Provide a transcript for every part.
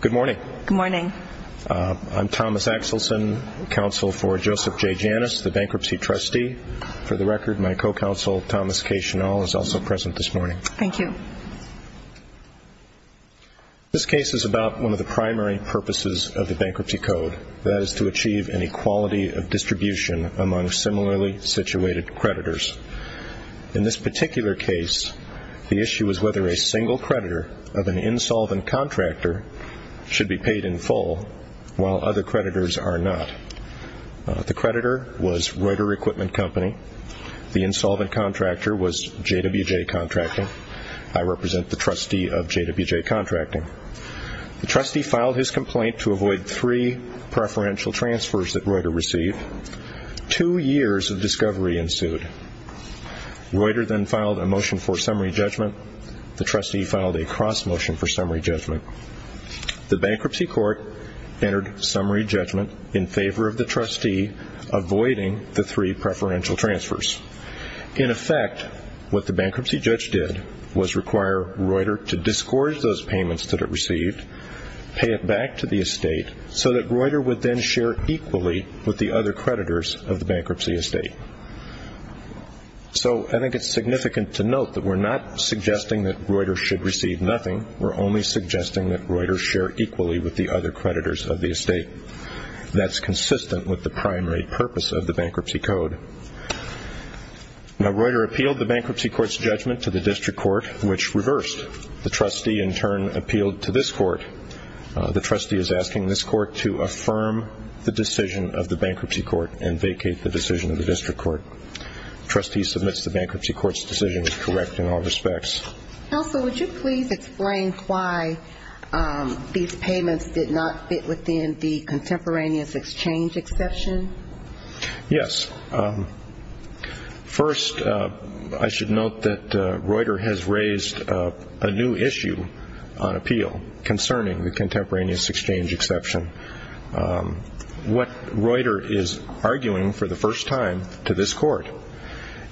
Good morning. I'm Thomas Axelson, Counsel for Joseph J. Janas, the Bankruptcy Trustee. For the record, my co-counsel, Thomas Caishonal, is also present this morning. Thank you. This case is about one of the primary purposes of the Bankruptcy Code, that is to achieve an equality of distribution among similarly situated creditors. In this particular case, the issue is whether a single creditor of an insolvent contractor should be paid in full, while other creditors are not. The creditor was Reuter Equipment Company. The insolvent contractor was JWJ Contracting. I represent the trustee of JWJ Contracting. The trustee filed his complaint to avoid three preferential transfers that Reuter received. Two years of discovery ensued. Reuter then filed a motion for summary judgment. The trustee filed a cross-motion for summary judgment. The bankruptcy court entered summary judgment in favor of the trustee avoiding the three preferential transfers. In effect, what the bankruptcy judge did was require Reuter to disgorge those payments that it received, pay it back to the estate, so that Reuter would then share equally with the other creditors of the bankruptcy estate. So I think it's significant to note that we're not suggesting that Reuter should receive nothing. We're only suggesting that Reuter share equally with the other creditors of the estate. That's consistent with the primary purpose of the bankruptcy code. Now, Reuter appealed the bankruptcy court's judgment to the district court, which reversed. The trustee, in turn, appealed to this court. The trustee is asking this court to affirm the decision of the bankruptcy court and vacate the decision of the district court. The trustee submits the bankruptcy court's decision as correct in all respects. Counsel, would you please explain why these payments did not fit within the contemporaneous exchange exception? Yes. First, I should note that Reuter has raised a new issue on appeal concerning the contemporaneous exchange exception. What Reuter is arguing for the first time to this court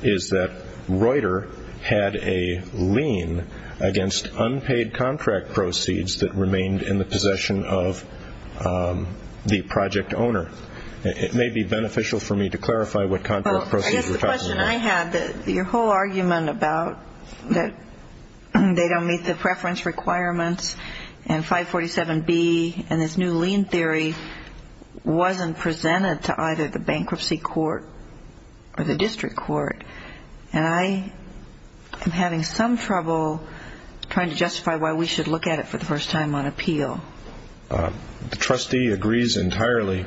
is that Reuter had a lien against unpaid contract proceeds that remained in the possession of the project owner. It may be beneficial for me to clarify what contract proceeds were talking about. I guess the question I had, your whole argument about that they don't meet the preference requirements and 547B and this new lien theory wasn't presented to either the bankruptcy court or the district court. And I am having some trouble trying to justify why we should look at it for the first time on appeal. The trustee agrees entirely.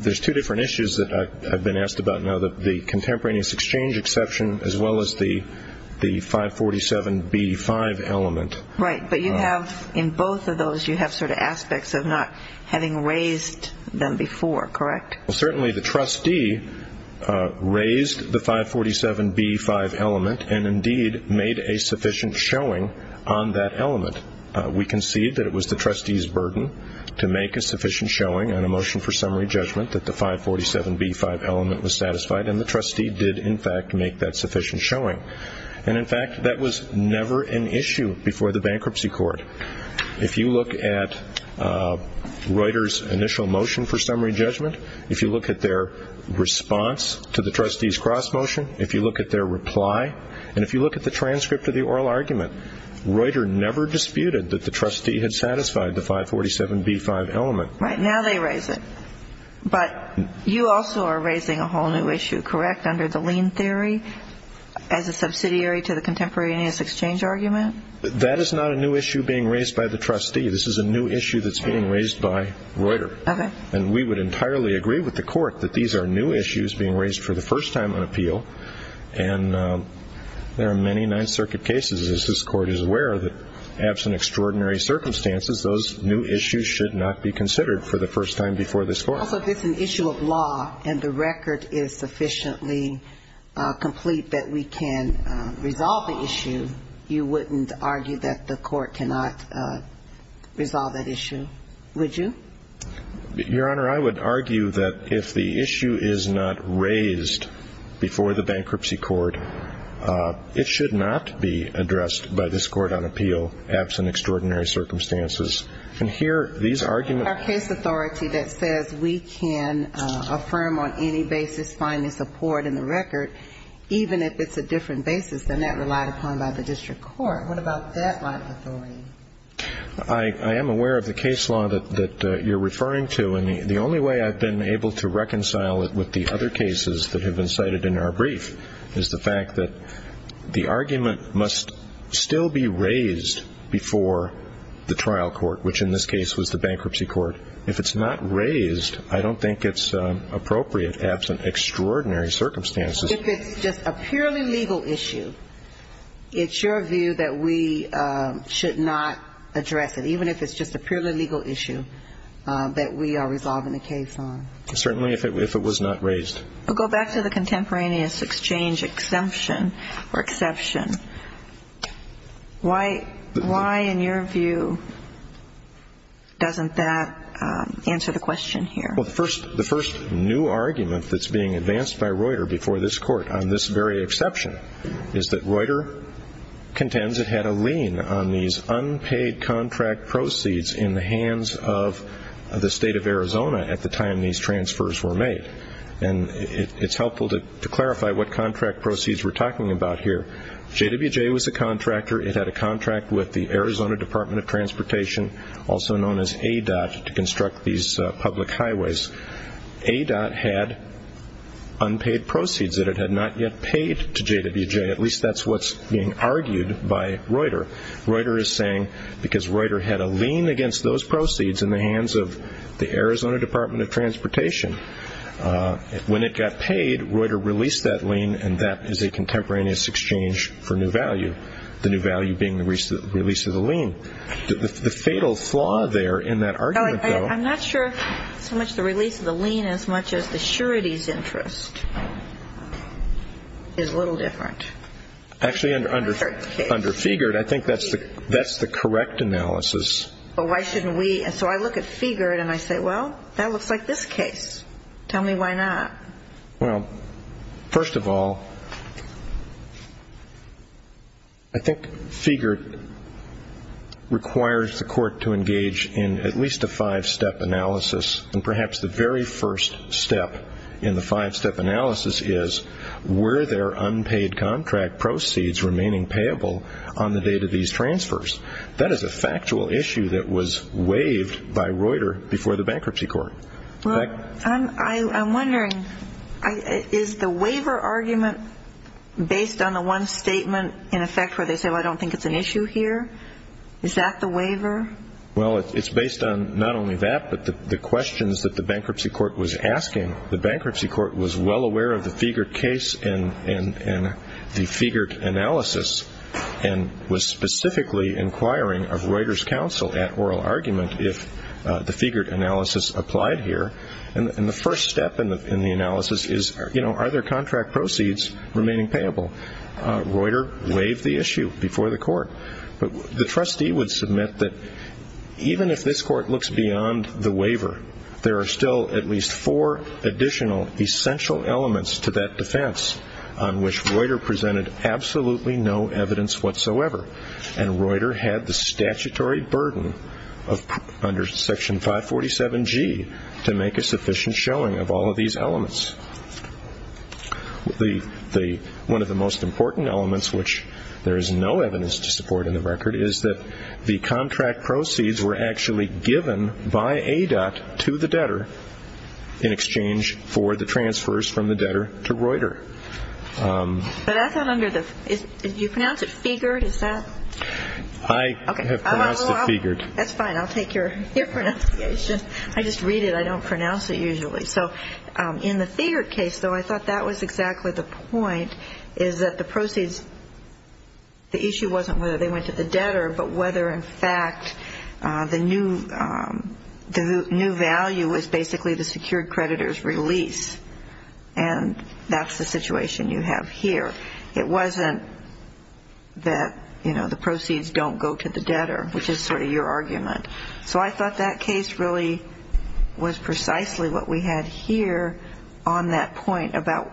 There's two different issues that I've been asked about now, the contemporaneous exchange exception as well as the 547B5 element. Right, but you have in both of those, you have sort of aspects of not having raised them before, correct? Well, certainly the trustee raised the 547B5 element and indeed made a sufficient showing on that element. We concede that it was the trustee's burden to make a sufficient showing on a motion for summary judgment that the 547B5 element was satisfied and the trustee did in fact make that sufficient showing. And in fact, that was never an issue before the bankruptcy court. If you look at Reuter's initial motion for summary judgment, if you look at their response to the trustee's cross motion, if you look at their reply, and if you look at the transcript of the oral argument, Reuter never disputed that the trustee had satisfied the 547B5 element. Right, now they raise it. But you also are raising a whole new issue, correct, under the lien theory as a subsidiary to the contemporaneous exchange argument? That is not a new issue being raised by the trustee. This is a new issue that's being raised by Reuter. Okay. And we would entirely agree with the court that these are new issues being raised for the first time on appeal. And there are many Ninth Circuit cases, as this court is aware, that absent extraordinary circumstances, those new issues should not be considered for the first time before this court. Also, if it's an issue of law and the record is sufficiently complete that we can resolve the issue, you wouldn't argue that the court cannot resolve that issue, would you? Your Honor, I would argue that if the issue is not raised before the bankruptcy court, it should not be addressed by this court on appeal absent extraordinary circumstances. And here these arguments Our case authority that says we can affirm on any basis finding support in the record, even if it's a different basis than that relied upon by the district court, what about that line of authority? I am aware of the case law that you're referring to. And the only way I've been able to reconcile it with the other cases that have been cited in our brief is the fact that the argument must still be raised before the trial court, which in this case was the bankruptcy court. If it's not raised, I don't think it's appropriate absent extraordinary circumstances. If it's just a purely legal issue, it's your view that we should not address it, even if it's just a purely legal issue that we are resolving the case on? Certainly, if it was not raised. I'll go back to the contemporaneous exchange exemption or exception. Why in your view doesn't that answer the question here? The first new argument that's being advanced by Reuter before this court on this very exception is that Reuter contends it had a lien on these unpaid contract proceeds in the hands of the state of Arizona at the time these transfers were made. And it's helpful to clarify what contract proceeds we're talking about here. JWJ was a contractor. It had a contract with the Arizona Department of Transportation, also known as ADOT, to construct these public highways. ADOT had unpaid proceeds that it had not yet paid to JWJ. At least that's what's being argued by Reuter. Reuter is saying because Reuter had a lien against those proceeds in the hands of the Arizona Department of Transportation, when it got paid, Reuter released that lien. And that is a contemporaneous exchange for new value, the new value being the release of the lien. The fatal flaw there in that argument, though. I'm not sure so much the release of the lien as much as the surety's interest is a little different. Actually, under Figert, I think that's the correct analysis. But why shouldn't we? And so I look at Figert and I say, well, that looks like this case. Tell me why not. Well, first of all, I think Figert requires the court to engage in at least a five-step analysis. And perhaps the very first step in the five-step analysis is were there unpaid contract proceeds remaining payable on the date of these transfers? That is a factual issue that was waived by Reuter before the bankruptcy court. Well, I'm wondering, is the waiver argument based on the one statement in effect where they say, well, I don't think it's an issue here? Is that the waiver? Well, it's based on not only that, but the questions that the bankruptcy court was asking. The bankruptcy court was well aware of the Figert case and the Figert analysis and was specifically inquiring of Reuter's counsel at oral argument if the Figert analysis applied here. And the first step in the analysis is, you know, are there contract proceeds remaining payable? Reuter waived the issue before the court. But the trustee would submit that even if this court looks beyond the waiver, there are still at least four additional essential elements to that defense on which Reuter presented absolutely no evidence whatsoever. And Reuter had the statutory burden under Section 547G to make a sufficient showing of all of these elements. One of the most important elements, which there is no evidence to support in the record, is that the contract proceeds were actually given by ADOT to the debtor in exchange for the transfers from the debtor to Reuter. But that's not under the – you pronounce it Figert, is that? I have pronounced it Figert. That's fine. I'll take your pronunciation. I just read it. I don't pronounce it usually. So in the Figert case, though, I thought that was exactly the point, is that the proceeds – I don't know whether they went to the debtor, but whether, in fact, the new value was basically the secured creditor's release. And that's the situation you have here. It wasn't that, you know, the proceeds don't go to the debtor, which is sort of your argument. So I thought that case really was precisely what we had here on that point about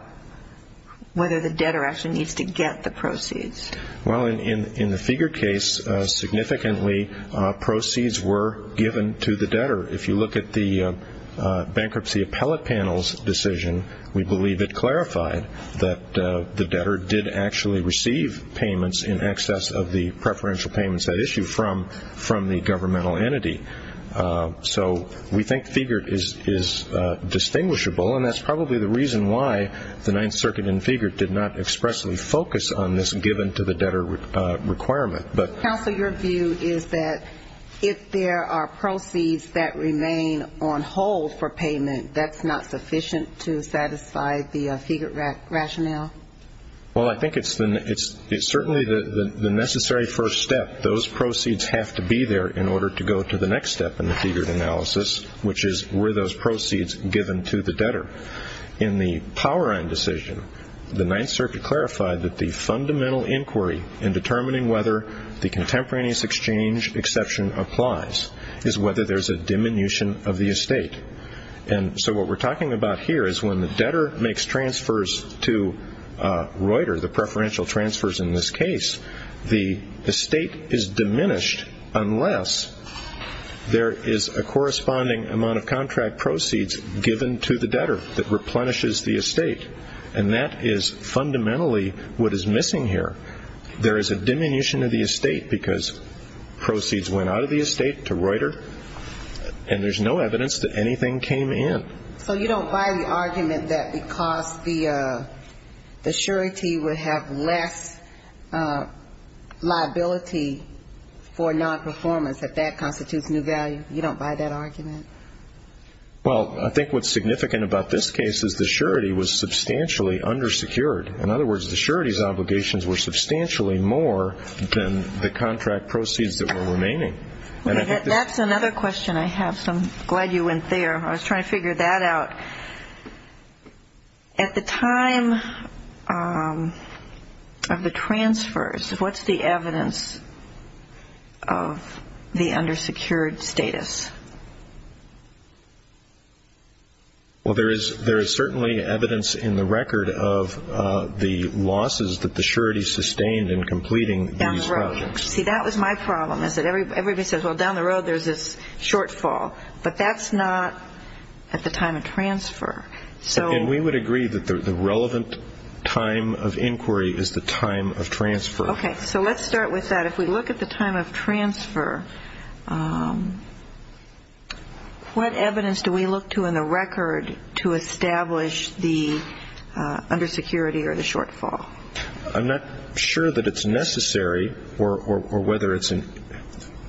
whether the debtor actually needs to get the proceeds. Well, in the Figert case, significantly, proceeds were given to the debtor. If you look at the bankruptcy appellate panel's decision, we believe it clarified that the debtor did actually receive payments in excess of the preferential payments that issue from the governmental entity. So we think Figert is distinguishable, and that's probably the reason why the Ninth Circuit in Figert did not expressly focus on this given-to-the-debtor requirement. Counsel, your view is that if there are proceeds that remain on hold for payment, that's not sufficient to satisfy the Figert rationale? Well, I think it's certainly the necessary first step. Those proceeds have to be there in order to go to the next step in the Figert analysis, which is were those proceeds given to the debtor. In the Powerine decision, the Ninth Circuit clarified that the fundamental inquiry in determining whether the contemporaneous exchange exception applies is whether there's a diminution of the estate. And so what we're talking about here is when the debtor makes transfers to Reuter, the preferential transfers in this case, the estate is diminished unless there is a corresponding amount of contract proceeds given to the debtor that replenishes the estate, and that is fundamentally what is missing here. There is a diminution of the estate because proceeds went out of the estate to Reuter, and there's no evidence that anything came in. So you don't buy the argument that because the surety would have less liability for nonperformance, that that constitutes new value? You don't buy that argument? Well, I think what's significant about this case is the surety was substantially undersecured. In other words, the surety's obligations were substantially more than the contract proceeds that were remaining. That's another question I have, so I'm glad you went there. I was trying to figure that out. At the time of the transfers, what's the evidence of the undersecured status? Well, there is certainly evidence in the record of the losses that the surety sustained in completing these projects. See, that was my problem, is that everybody says, well, down the road there's this shortfall. But that's not at the time of transfer. And we would agree that the relevant time of inquiry is the time of transfer. Okay. So let's start with that. If we look at the time of transfer, what evidence do we look to in the record to establish the undersecurity or the shortfall? I'm not sure that it's necessary or whether it's an ‑‑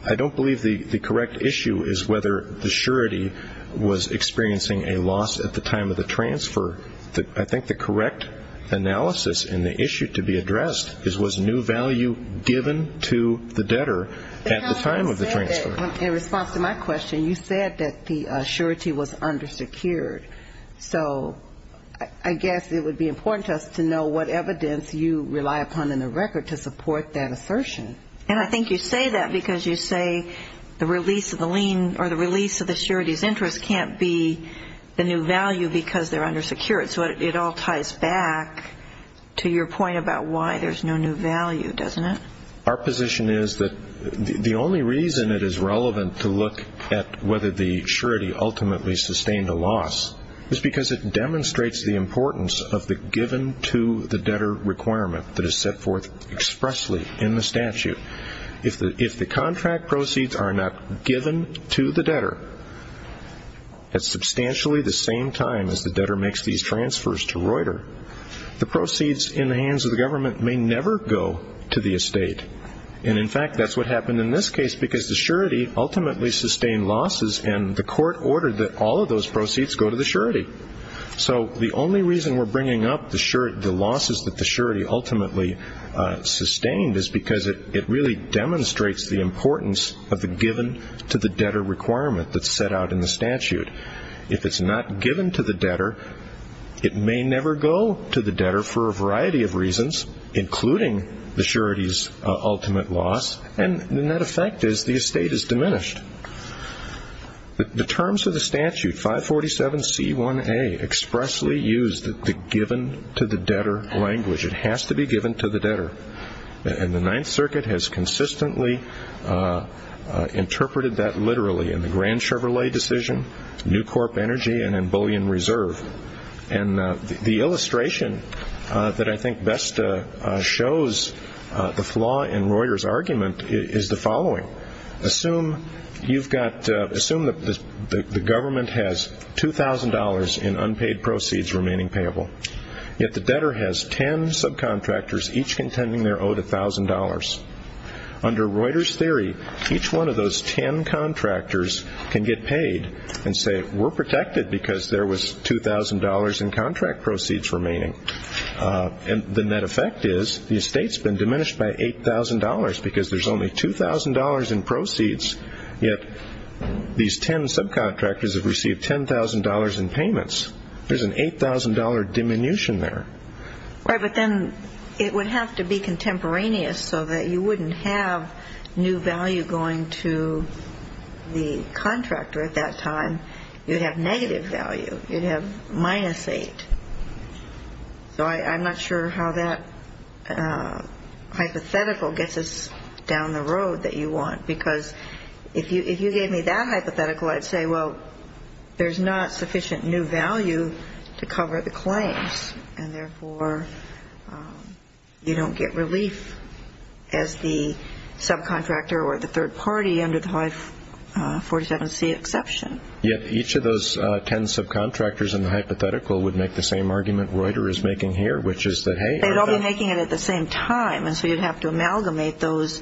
I don't believe the correct issue is whether the surety was experiencing a loss at the time of the transfer. I think the correct analysis in the issue to be addressed is was new value given to the debtor at the time of the transfer? In response to my question, you said that the surety was undersecured. So I guess it would be important to us to know what evidence you rely upon in the record to support that assertion. And I think you say that because you say the release of the lien or the release of the surety's interest can't be the new value because they're undersecured. So it all ties back to your point about why there's no new value, doesn't it? Our position is that the only reason it is relevant to look at whether the surety ultimately sustained a loss is because it demonstrates the importance of the given to the debtor requirement that is set forth expressly in the statute. If the contract proceeds are not given to the debtor at substantially the same time as the debtor makes these transfers to Reuter, the proceeds in the hands of the government may never go to the estate. And, in fact, that's what happened in this case because the surety ultimately sustained losses and the court ordered that all of those proceeds go to the surety. So the only reason we're bringing up the losses that the surety ultimately sustained is because it really demonstrates the importance of the given to the debtor requirement that's set out in the statute. If it's not given to the debtor, it may never go to the debtor for a variety of reasons, including the surety's ultimate loss, and the net effect is the estate is diminished. The terms of the statute, 547C1A, expressly use the given to the debtor language. It has to be given to the debtor, and the Ninth Circuit has consistently interpreted that literally. In the Grand Chevrolet decision, New Corp Energy and in Bullion Reserve. And the illustration that I think best shows the flaw in Reuter's argument is the following. Assume the government has $2,000 in unpaid proceeds remaining payable, yet the debtor has 10 subcontractors each contending they're owed $1,000. Under Reuter's theory, each one of those 10 contractors can get paid and say we're protected because there was $2,000 in contract proceeds remaining. And the net effect is the estate's been diminished by $8,000 because there's only $2,000 in proceeds, yet these 10 subcontractors have received $10,000 in payments. There's an $8,000 diminution there. But then it would have to be contemporaneous so that you wouldn't have new value going to the contractor at that time. You'd have negative value. You'd have minus 8. So I'm not sure how that hypothetical gets us down the road that you want, because if you gave me that hypothetical, I'd say, well, there's not sufficient new value to cover the claims. And, therefore, you don't get relief as the subcontractor or the third party under the 547C exception. Yet each of those 10 subcontractors in the hypothetical would make the same argument Reuter is making here, which is that, hey, they'd all be making it at the same time, and so you'd have to amalgamate those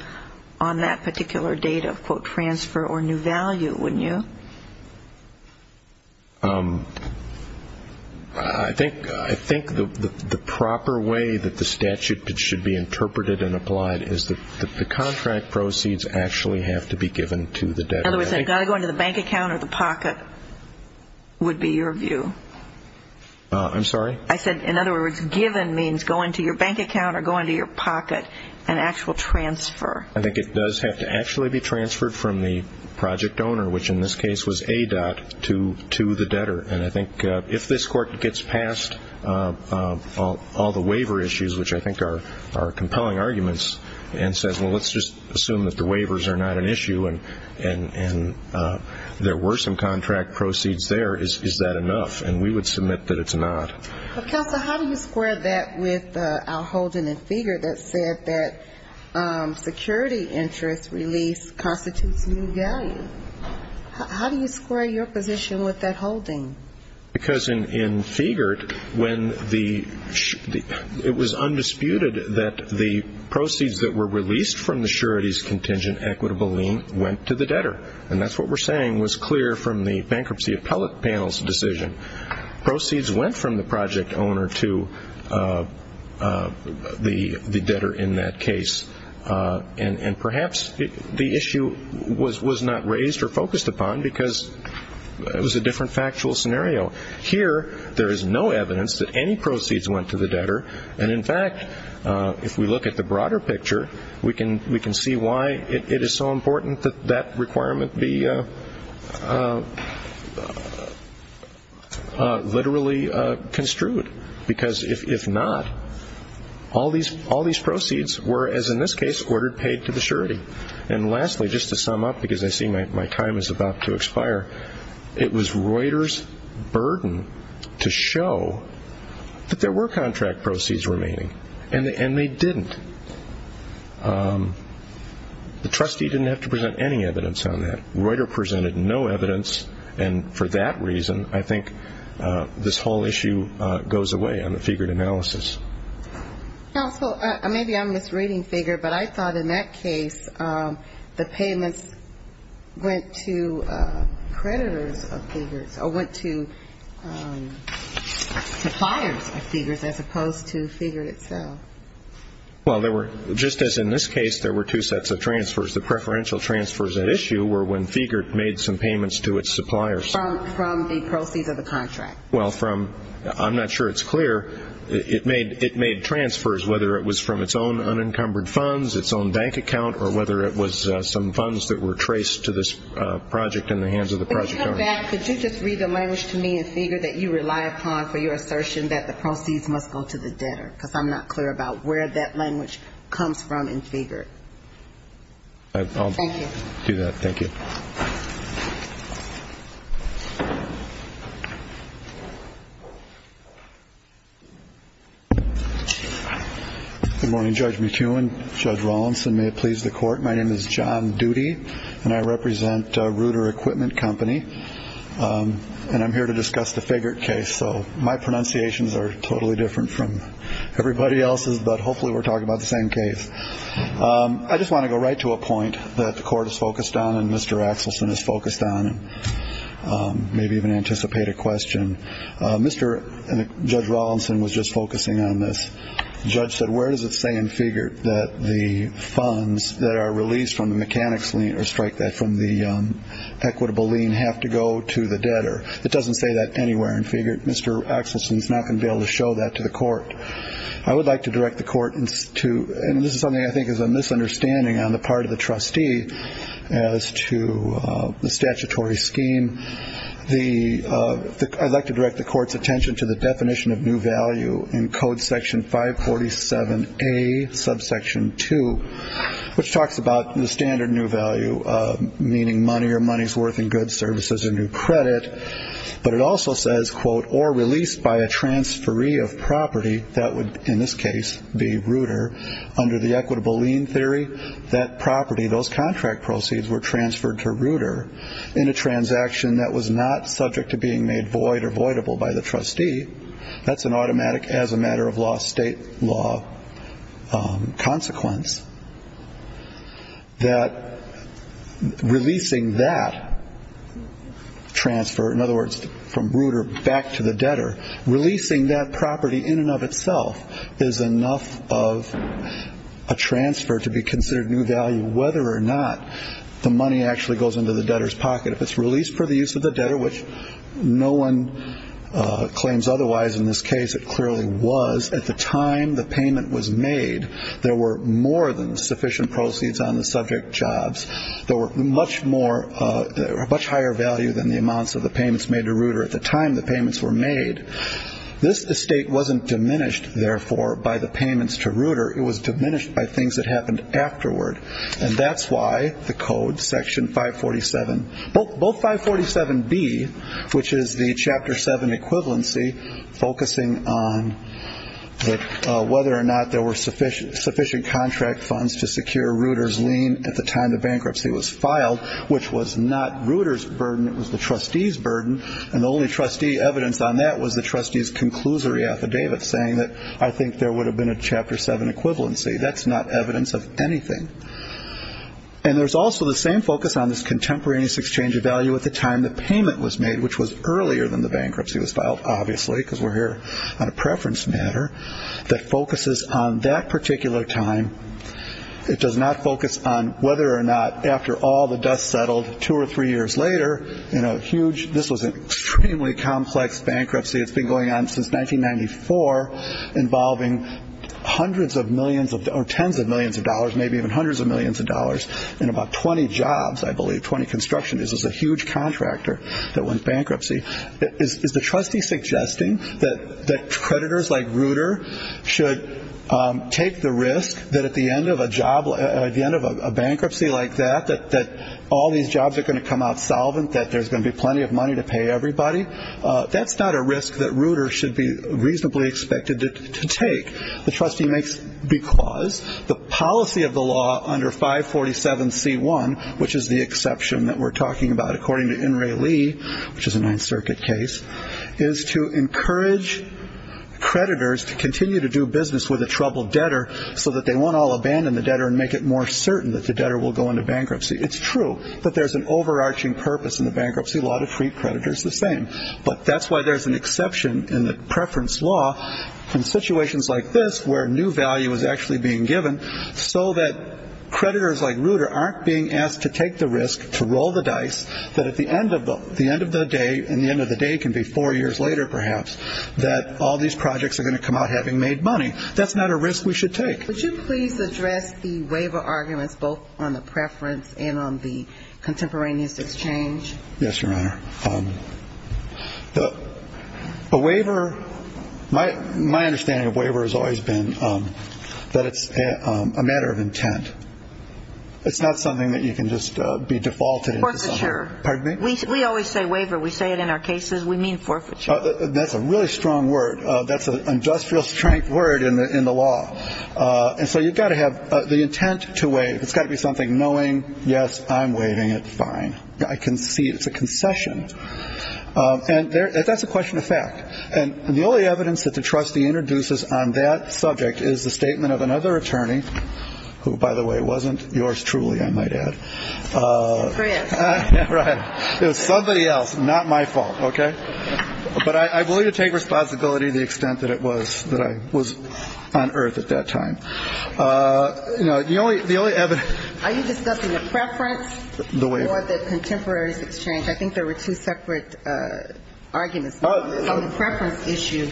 on that particular date of, quote, transfer or new value, wouldn't you? I think the proper way that the statute should be interpreted and applied is that the contract proceeds actually have to be given to the debtor. In other words, they've got to go into the bank account or the pocket would be your view. I'm sorry? I said, in other words, given means going to your bank account or going to your pocket and actual transfer. I think it does have to actually be transferred from the project owner, which in this case was ADOT, to the debtor. And I think if this court gets past all the waiver issues, which I think are compelling arguments, and says, well, let's just assume that the waivers are not an issue and there were some contract proceeds there, is that enough? And we would submit that it's not. Counsel, how do you square that with our holding in Figert that said that security interest release constitutes new value? How do you square your position with that holding? Because in Figert when the ‑‑ it was undisputed that the proceeds that were released from the surety's contingent equitable lien went to the debtor. And that's what we're saying was clear from the bankruptcy appellate panel's decision. Proceeds went from the project owner to the debtor in that case. And perhaps the issue was not raised or focused upon because it was a different factual scenario. Here there is no evidence that any proceeds went to the debtor. And, in fact, if we look at the broader picture, we can see why it is so important that that requirement be literally construed. Because if not, all these proceeds were, as in this case, ordered paid to the surety. And lastly, just to sum up, because I see my time is about to expire, it was Reuter's burden to show that there were contract proceeds remaining. And they didn't. The trustee didn't have to present any evidence on that. Reuter presented no evidence. And for that reason, I think this whole issue goes away on the Figert analysis. Counsel, maybe I'm misreading Figert, but I thought in that case the payments went to creditors of Figert's or went to suppliers of Figert's as opposed to Figert itself. Well, just as in this case there were two sets of transfers, the preferential transfers at issue were when Figert made some payments to its suppliers. From the proceeds of the contract. Well, from, I'm not sure it's clear. It made transfers, whether it was from its own unencumbered funds, its own bank account, or whether it was some funds that were traced to this project in the hands of the project owner. Could you just read the language to me in Figert that you rely upon for your assertion that the proceeds must go to the debtor? Because I'm not clear about where that language comes from in Figert. I'll do that. Thank you. Good morning, Judge McEwen, Judge Rawlinson. May it please the Court. My name is John Doody, and I represent Reuter Equipment Company, and I'm here to discuss the Figert case. So my pronunciations are totally different from everybody else's, but hopefully we're talking about the same case. I just want to go right to a point that the Court is focused on and Mr. Axelson is focused on, and maybe even anticipate a question. Mr. and Judge Rawlinson was just focusing on this. The judge said, where does it say in Figert that the funds that are released from the mechanics lien or strike that from the equitable lien have to go to the debtor? It doesn't say that anywhere in Figert. Mr. Axelson is not going to be able to show that to the Court. I would like to direct the Court to, and this is something I think is a misunderstanding on the part of the trustee as to the statutory scheme. I'd like to direct the Court's attention to the definition of new value in Code Section 547A, Subsection 2, which talks about the standard new value, meaning money or money's worth in goods, services, or new credit. But it also says, quote, or released by a transferee of property, that would, in this case, be Reuter, under the equitable lien theory, that property, those contract proceeds, were transferred to Reuter in a transaction that was not subject to being made void or voidable by the trustee. That's an automatic, as a matter of law, state law consequence. That releasing that transfer, in other words, from Reuter back to the debtor, releasing that property in and of itself is enough of a transfer to be considered new value, whether or not the money actually goes into the debtor's pocket. If it's released for the use of the debtor, which no one claims otherwise, in this case it clearly was, because at the time the payment was made, there were more than sufficient proceeds on the subject jobs. There were much higher value than the amounts of the payments made to Reuter at the time the payments were made. This estate wasn't diminished, therefore, by the payments to Reuter. It was diminished by things that happened afterward. And that's why the code, Section 547, both 547B, which is the Chapter 7 equivalency, focusing on whether or not there were sufficient contract funds to secure Reuter's lien at the time the bankruptcy was filed, which was not Reuter's burden, it was the trustee's burden, and the only trustee evidence on that was the trustee's conclusory affidavit, saying that I think there would have been a Chapter 7 equivalency. That's not evidence of anything. And there's also the same focus on this contemporaneous exchange of value at the time the payment was made, which was earlier than the bankruptcy was filed, obviously, because we're here on a preference matter, that focuses on that particular time. It does not focus on whether or not, after all the dust settled two or three years later, in a huge, this was an extremely complex bankruptcy that's been going on since 1994, involving hundreds of millions or tens of millions of dollars, maybe even hundreds of millions of dollars, and about 20 jobs, I believe, 20 construction, this was a huge contractor that went bankruptcy. Is the trustee suggesting that creditors like Reuter should take the risk that at the end of a job, at the end of a bankruptcy like that, that all these jobs are going to come out solvent, that there's going to be plenty of money to pay everybody? That's not a risk that Reuter should be reasonably expected to take. The trustee makes because the policy of the law under 547C1, which is the exception that we're talking about according to In Re Lee, which is a Ninth Circuit case, is to encourage creditors to continue to do business with a troubled debtor so that they won't all abandon the debtor and make it more certain that the debtor will go into bankruptcy. It's true that there's an overarching purpose in the bankruptcy law to treat creditors the same. But that's why there's an exception in the preference law in situations like this where new value is actually being given so that creditors like Reuter aren't being asked to take the risk, to roll the dice, that at the end of the day, and the end of the day can be four years later perhaps, that all these projects are going to come out having made money. That's not a risk we should take. Would you please address the waiver arguments both on the preference and on the contemporaneous exchange? Yes, Your Honor. A waiver, my understanding of waiver has always been that it's a matter of intent. It's not something that you can just be defaulted. Forfeiture. Pardon me? We always say waiver. We say it in our cases. We mean forfeiture. That's a really strong word. That's an industrial strength word in the law. And so you've got to have the intent to waive. It's got to be something knowing, yes, I'm waiving it. Fine. I can see it's a concession. And that's a question of fact. And the only evidence that the trustee introduces on that subject is the statement of another attorney, who, by the way, wasn't yours truly, I might add. Right. It was somebody else. Not my fault. Okay. But I will take responsibility to the extent that it was, that I was on earth at that time. You know, the only evidence. Are you discussing the preference for the contemporaneous exchange? I think there were two separate arguments on the preference issue.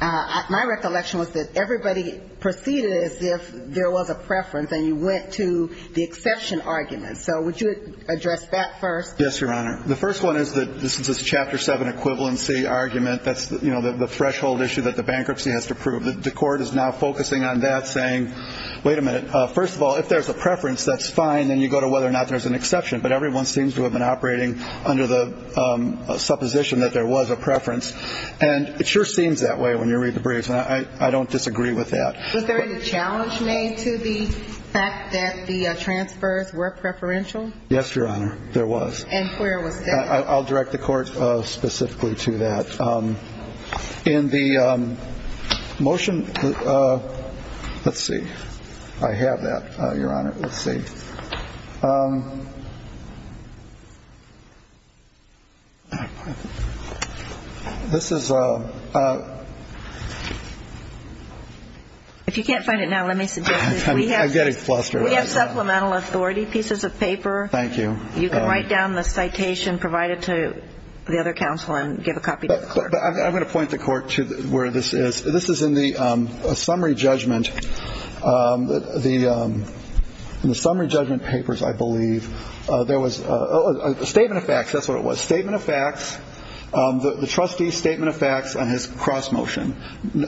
My recollection was that everybody proceeded as if there was a preference and you went to the exception argument. So would you address that first? Yes, Your Honor. The first one is that this is a Chapter 7 equivalency argument. That's, you know, the threshold issue that the bankruptcy has to prove. The court is now focusing on that, saying, wait a minute, first of all, if there's a preference, that's fine. Then you go to whether or not there's an exception. But everyone seems to have been operating under the supposition that there was a preference. And it sure seems that way when you read the briefs. And I don't disagree with that. Was there any challenge made to the fact that the transfers were preferential? Yes, Your Honor, there was. And where was that? I'll direct the court specifically to that. In the motion, let's see. I have that, Your Honor. Let's see. This is a. If you can't find it now, let me suggest this. I'm getting flustered. We have supplemental authority, pieces of paper. Thank you. You can write down the citation provided to the other counsel and give a copy to the court. I'm going to point the court to where this is. This is in the summary judgment. In the summary judgment papers, I believe, there was a statement of facts. That's what it was. Statement of facts. The trustee's statement of facts on his cross motion.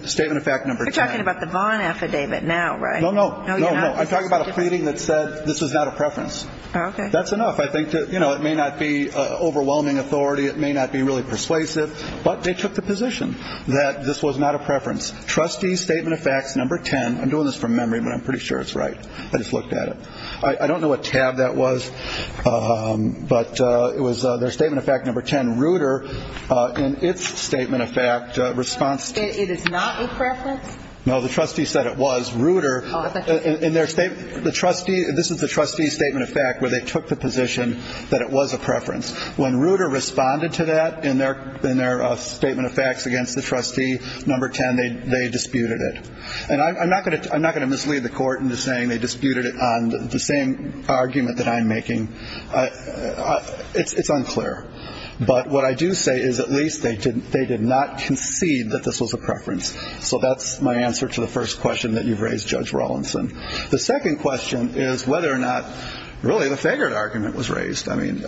Statement of fact number 10. You're talking about the Vaughn affidavit now, right? No, no. No, you're not. I'm talking about a pleading that said this was not a preference. Okay. That's enough, I think. You know, it may not be overwhelming authority. It may not be really persuasive. But they took the position that this was not a preference. Trustee's statement of facts number 10. I'm doing this from memory, but I'm pretty sure it's right. I just looked at it. I don't know what tab that was, but it was their statement of fact number 10. Ruder, in its statement of fact response. It is not a preference? No, the trustee said it was. This is the trustee's statement of fact where they took the position that it was a preference. When Ruder responded to that in their statement of facts against the trustee number 10, they disputed it. And I'm not going to mislead the court into saying they disputed it on the same argument that I'm making. It's unclear. But what I do say is at least they did not concede that this was a preference. So that's my answer to the first question that you've raised, Judge Rawlinson. The second question is whether or not really the Faggard argument was raised. I mean,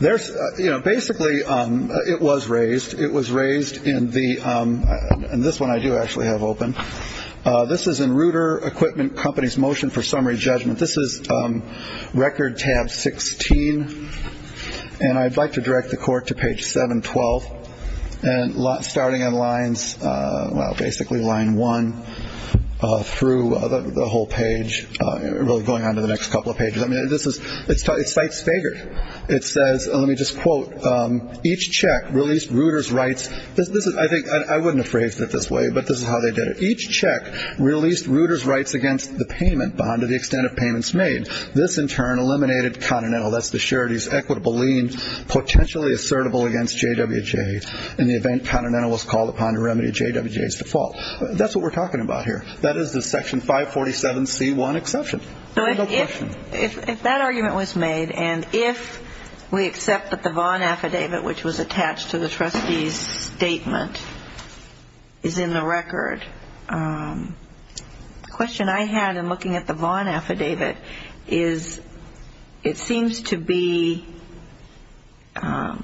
basically it was raised. It was raised in the ‑‑ and this one I do actually have open. This is in Ruder Equipment Company's motion for summary judgment. This is record tab 16. And I'd like to direct the court to page 712. And starting in lines, well, basically line one through the whole page, really going on to the next couple of pages. I mean, this is ‑‑ it cites Faggard. It says, let me just quote, each check released Ruder's rights. This is, I think, I wouldn't have phrased it this way, but this is how they did it. Each check released Ruder's rights against the payment bond to the extent of payments made. This, in turn, eliminated continental. That's the charity's equitable lien, potentially assertable against JWJ in the event continental was called upon to remedy JWJ's default. That's what we're talking about here. That is the Section 547c1 exception. No question. If that argument was made, and if we accept that the Vaughn Affidavit, which was attached to the trustee's statement, is in the record, the question I had in looking at the Vaughn Affidavit is, it seems to be that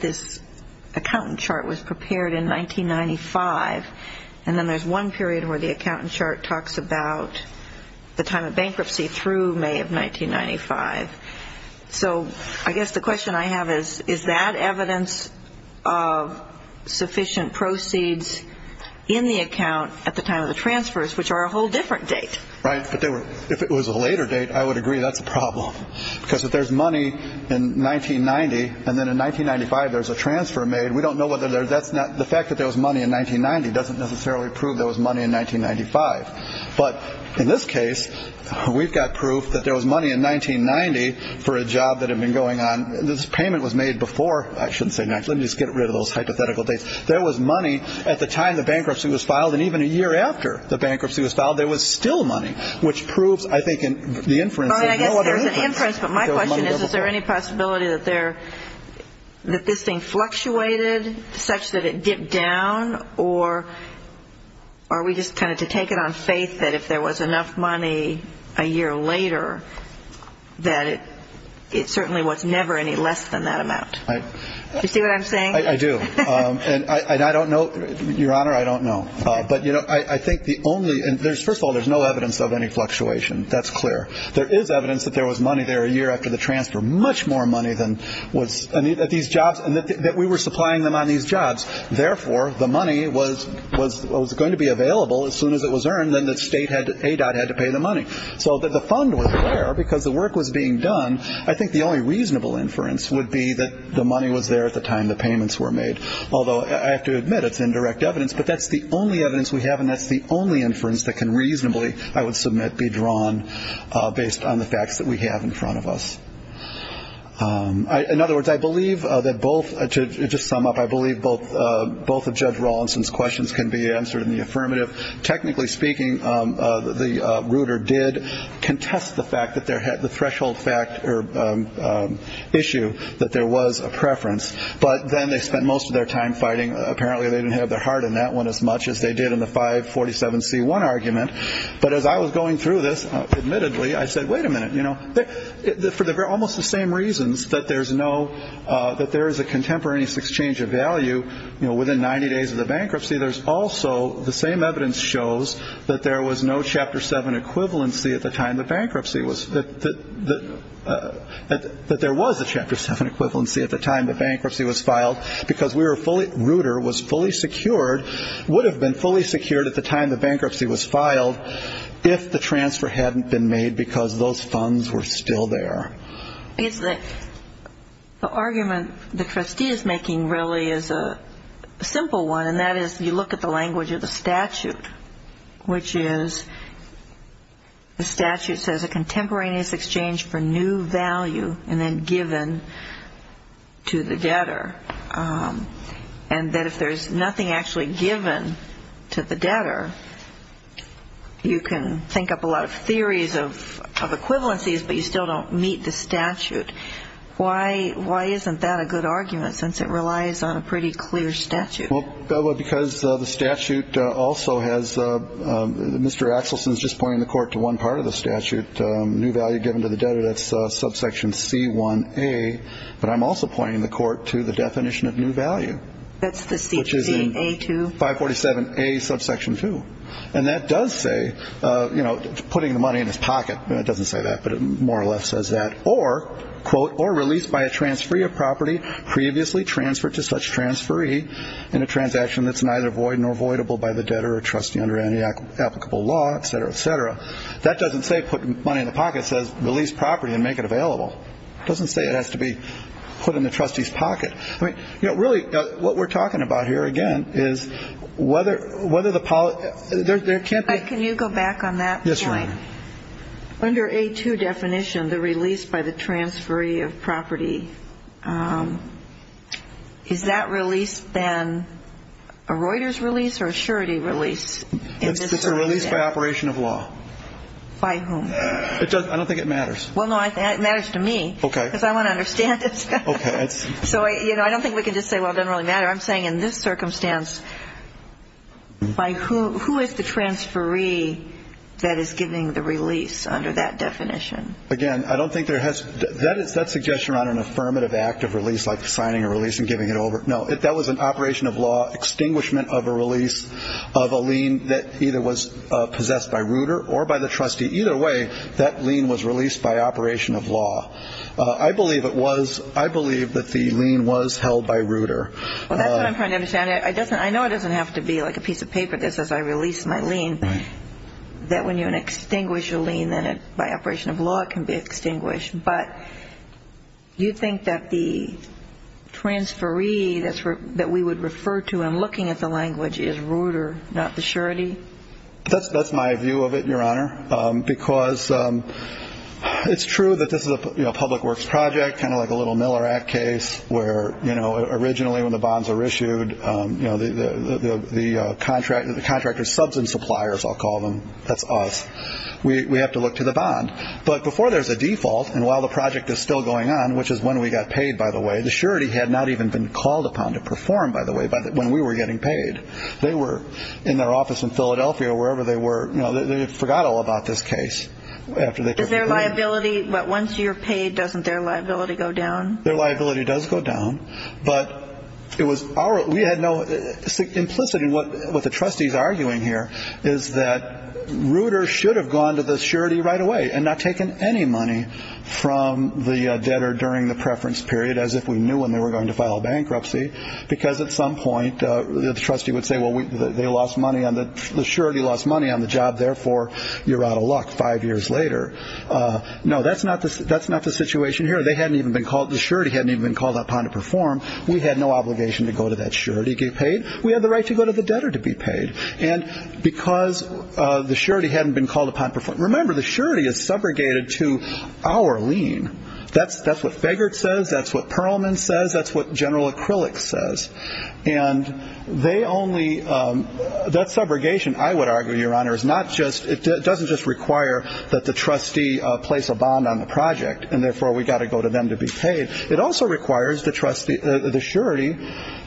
this accountant chart was prepared in 1995, and then there's one period where the accountant chart talks about the time of bankruptcy through May of 1995. So I guess the question I have is, is that evidence of sufficient proceeds in the account at the time of the transfers, which are a whole different date? Right, but if it was a later date, I would agree that's a problem. Because if there's money in 1990, and then in 1995 there's a transfer made, we don't know whether that's not the fact that there was money in 1990 doesn't necessarily prove there was money in 1995. But in this case, we've got proof that there was money in 1990 for a job that had been going on. This payment was made before, I shouldn't say, let me just get rid of those hypothetical dates. There was money at the time the bankruptcy was filed, and even a year after the bankruptcy was filed, there was still money, which proves, I think, in the inference. I guess there's an inference, but my question is, is there any possibility that this thing fluctuated such that it dipped down, or are we just kind of to take it on faith that if there was enough money a year later, that it certainly was never any less than that amount? Do you see what I'm saying? I do. And I don't know, Your Honor, I don't know. But, you know, I think the only, and first of all, there's no evidence of any fluctuation. That's clear. There is evidence that there was money there a year after the transfer, much more money than was at these jobs, and that we were supplying them on these jobs. Therefore, the money was going to be available as soon as it was earned, and then the state, ADOT, had to pay the money. So the fund was there because the work was being done. I think the only reasonable inference would be that the money was there at the time the payments were made, although I have to admit it's indirect evidence. But that's the only evidence we have, and that's the only inference that can reasonably, I would submit, be drawn based on the facts that we have in front of us. In other words, I believe that both, to just sum up, I believe both of Judge Rawlinson's questions can be answered in the affirmative. Technically speaking, the ruder did contest the fact that there had, the threshold fact or issue that there was a preference. But then they spent most of their time fighting. Apparently they didn't have their heart in that one as much as they did in the 547C1 argument. But as I was going through this, admittedly, I said, wait a minute, you know, for almost the same reasons that there's no, that there is a contemporaneous exchange of value, you know, within 90 days of the bankruptcy, there's also the same evidence shows that there was no Chapter 7 equivalency at the time the bankruptcy was, that there was a Chapter 7 equivalency at the time the bankruptcy was filed, because we were fully, ruder was fully secured, would have been fully secured at the time the bankruptcy was filed if the transfer hadn't been made because those funds were still there. The argument the trustee is making really is a simple one, and that is you look at the language of the statute, which is the statute says a contemporaneous exchange for new value and then given to the debtor. And that if there's nothing actually given to the debtor, you can think up a lot of theories of equivalencies, but you still don't meet the statute. Why isn't that a good argument since it relies on a pretty clear statute? Well, because the statute also has, Mr. Axelson is just pointing the court to one part of the statute, new value given to the debtor, that's subsection C1A. But I'm also pointing the court to the definition of new value, which is in 547A subsection 2. And that does say, you know, putting the money in his pocket. It doesn't say that, but it more or less says that. Or, quote, or released by a transferee of property previously transferred to such transferee in a transaction that's neither void nor voidable by the debtor or trustee under any applicable law, et cetera, et cetera. That doesn't say put money in the pocket, it says release property and make it available. It doesn't say it has to be put in the trustee's pocket. I mean, you know, really what we're talking about here, again, is whether the policy ‑‑ there can't be ‑‑ Can you go back on that point? Yes, Your Honor. Under A2 definition, the release by the transferee of property, is that release then a Reuters release or a surety release? It's a release by operation of law. By whom? I don't think it matters. Well, no, I think it matters to me. Okay. Because I want to understand it. Okay. So, you know, I don't think we can just say, well, it doesn't really matter. I'm saying in this circumstance, by who is the transferee that is giving the release under that definition? Again, I don't think there has ‑‑ that's a suggestion around an affirmative act of release, like signing a release and giving it over. No, that was an operation of law, extinguishment of a release of a lien that either was possessed by Reuter or by the trustee. Either way, that lien was released by operation of law. I believe it was ‑‑ I believe that the lien was held by Reuter. Well, that's what I'm trying to understand. I know it doesn't have to be like a piece of paper that says I released my lien. Right. That when you extinguish a lien, then by operation of law it can be extinguished. But you think that the transferee that we would refer to in looking at the language is Reuter, not the surety? That's my view of it, Your Honor, because it's true that this is a public works project, kind of like a little Miller Act case where, you know, originally when the bonds were issued, you know, the contractor's substance suppliers, I'll call them, that's us, we have to look to the bond. But before there's a default, and while the project is still going on, which is when we got paid, by the way, the surety had not even been called upon to perform, by the way, when we were getting paid. They were in their office in Philadelphia, wherever they were. You know, they forgot all about this case. Is there liability? Once you're paid, doesn't their liability go down? Their liability does go down. But it was our – we had no – implicit in what the trustee's arguing here is that Reuter should have gone to the surety right away and not taken any money from the debtor during the preference period, as if we knew when they were going to file bankruptcy, because at some point the trustee would say, well, they lost money on the – the surety lost money on the job, therefore you're out of luck five years later. No, that's not the situation here. They hadn't even been called – the surety hadn't even been called upon to perform. We had no obligation to go to that surety to get paid. We had the right to go to the debtor to be paid. And because the surety hadn't been called upon – remember, the surety is subrogated to our lien. That's what Fegert says. That's what Perlman says. That's what General Acrylic says. And they only – that subrogation, I would argue, Your Honor, is not just – it doesn't just require that the trustee place a bond on the project, and therefore we've got to go to them to be paid. It also requires the trustee – the surety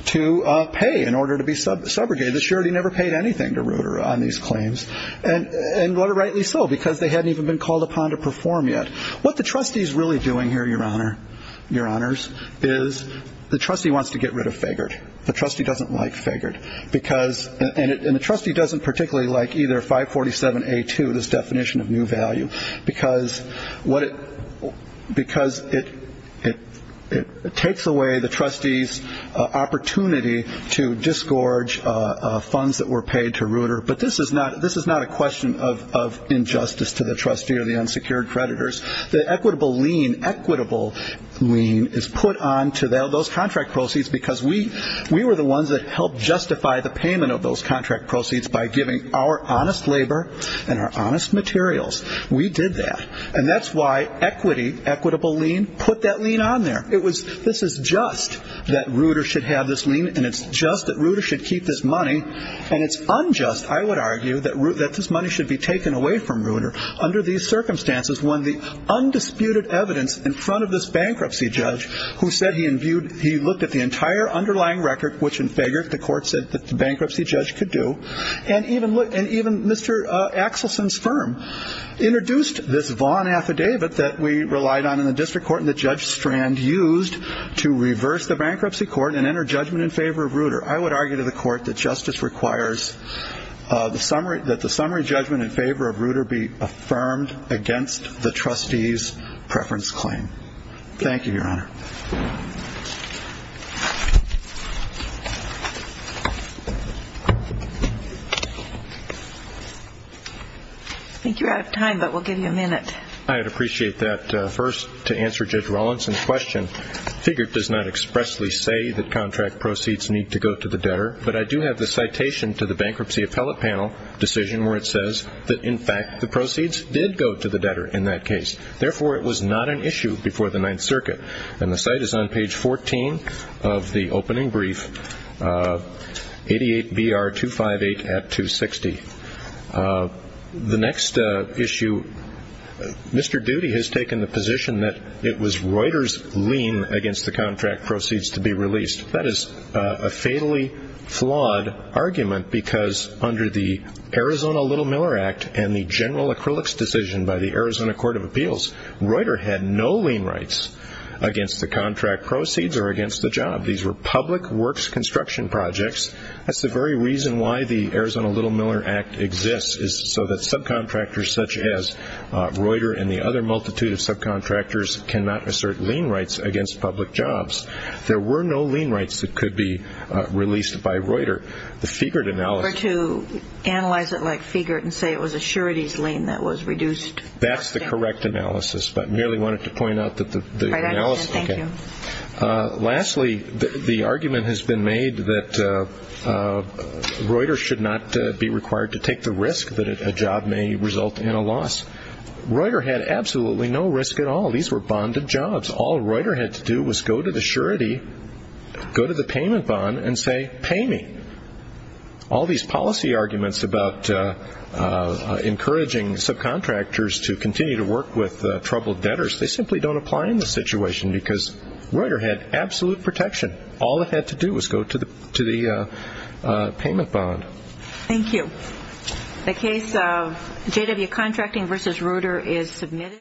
to pay in order to be subrogated. The surety never paid anything to Reuter on these claims, and rightly so, because they hadn't even been called upon to perform yet. What the trustee is really doing here, Your Honor, Your Honors, is the trustee wants to get rid of Fegert. The trustee doesn't like Fegert because – and the trustee doesn't particularly like either 547A2, this definition of new value, because what it – because it takes away the trustee's opportunity to disgorge funds that were paid to Reuter. But this is not a question of injustice to the trustee or the unsecured creditors. The equitable lien, equitable lien, is put on to those contract proceeds because we were the ones that helped justify the payment of those contract proceeds by giving our honest labor and our honest materials. We did that. And that's why equity, equitable lien, put that lien on there. It was – this is just that Reuter should have this lien, and it's just that Reuter should keep this money, and it's unjust. I would argue that this money should be taken away from Reuter under these circumstances when the undisputed evidence in front of this bankruptcy judge who said he imbued – he looked at the entire underlying record, which in Fegert the court said that the bankruptcy judge could do, and even Mr. Axelson's firm introduced this Vaughan affidavit that we relied on in the district court and that Judge Strand used to reverse the bankruptcy court and enter judgment in favor of Reuter. I would argue to the court that justice requires that the summary judgment in favor of Reuter be affirmed against the trustee's preference claim. Thank you, Your Honor. I think you're out of time, but we'll give you a minute. I would appreciate that. First, to answer Judge Rollins' question, Fegert does not expressly say that contract proceeds need to go to the debtor, but I do have the citation to the bankruptcy appellate panel decision where it says that, in fact, the proceeds did go to the debtor in that case. Therefore, it was not an issue before the Ninth Circuit, and the site is on page 14 of the opening brief, 88-BR-258-260. The next issue, Mr. Doody has taken the position that it was Reuter's lien against the contract proceeds to be released. That is a fatally flawed argument because under the Arizona Little Miller Act and the general acrylics decision by the Arizona Court of Appeals, Reuter had no lien rights against the contract proceeds or against the job. These were public works construction projects. That's the very reason why the Arizona Little Miller Act exists, is so that subcontractors such as Reuter and the other multitude of subcontractors cannot assert lien rights against public jobs. There were no lien rights that could be released by Reuter. The Fegert analysis- Or to analyze it like Fegert and say it was a surety's lien that was reduced. That's the correct analysis, but I merely wanted to point out that the- I understand. Thank you. Lastly, the argument has been made that Reuter should not be required to take the risk that a job may result in a loss. Reuter had absolutely no risk at all. These were bonded jobs. All Reuter had to do was go to the surety, go to the payment bond, and say, pay me. All these policy arguments about encouraging subcontractors to continue to work with troubled debtors, they simply don't apply in this situation because Reuter had absolute protection. All it had to do was go to the payment bond. Thank you. The case of J.W. Contracting v. Reuter is submitted.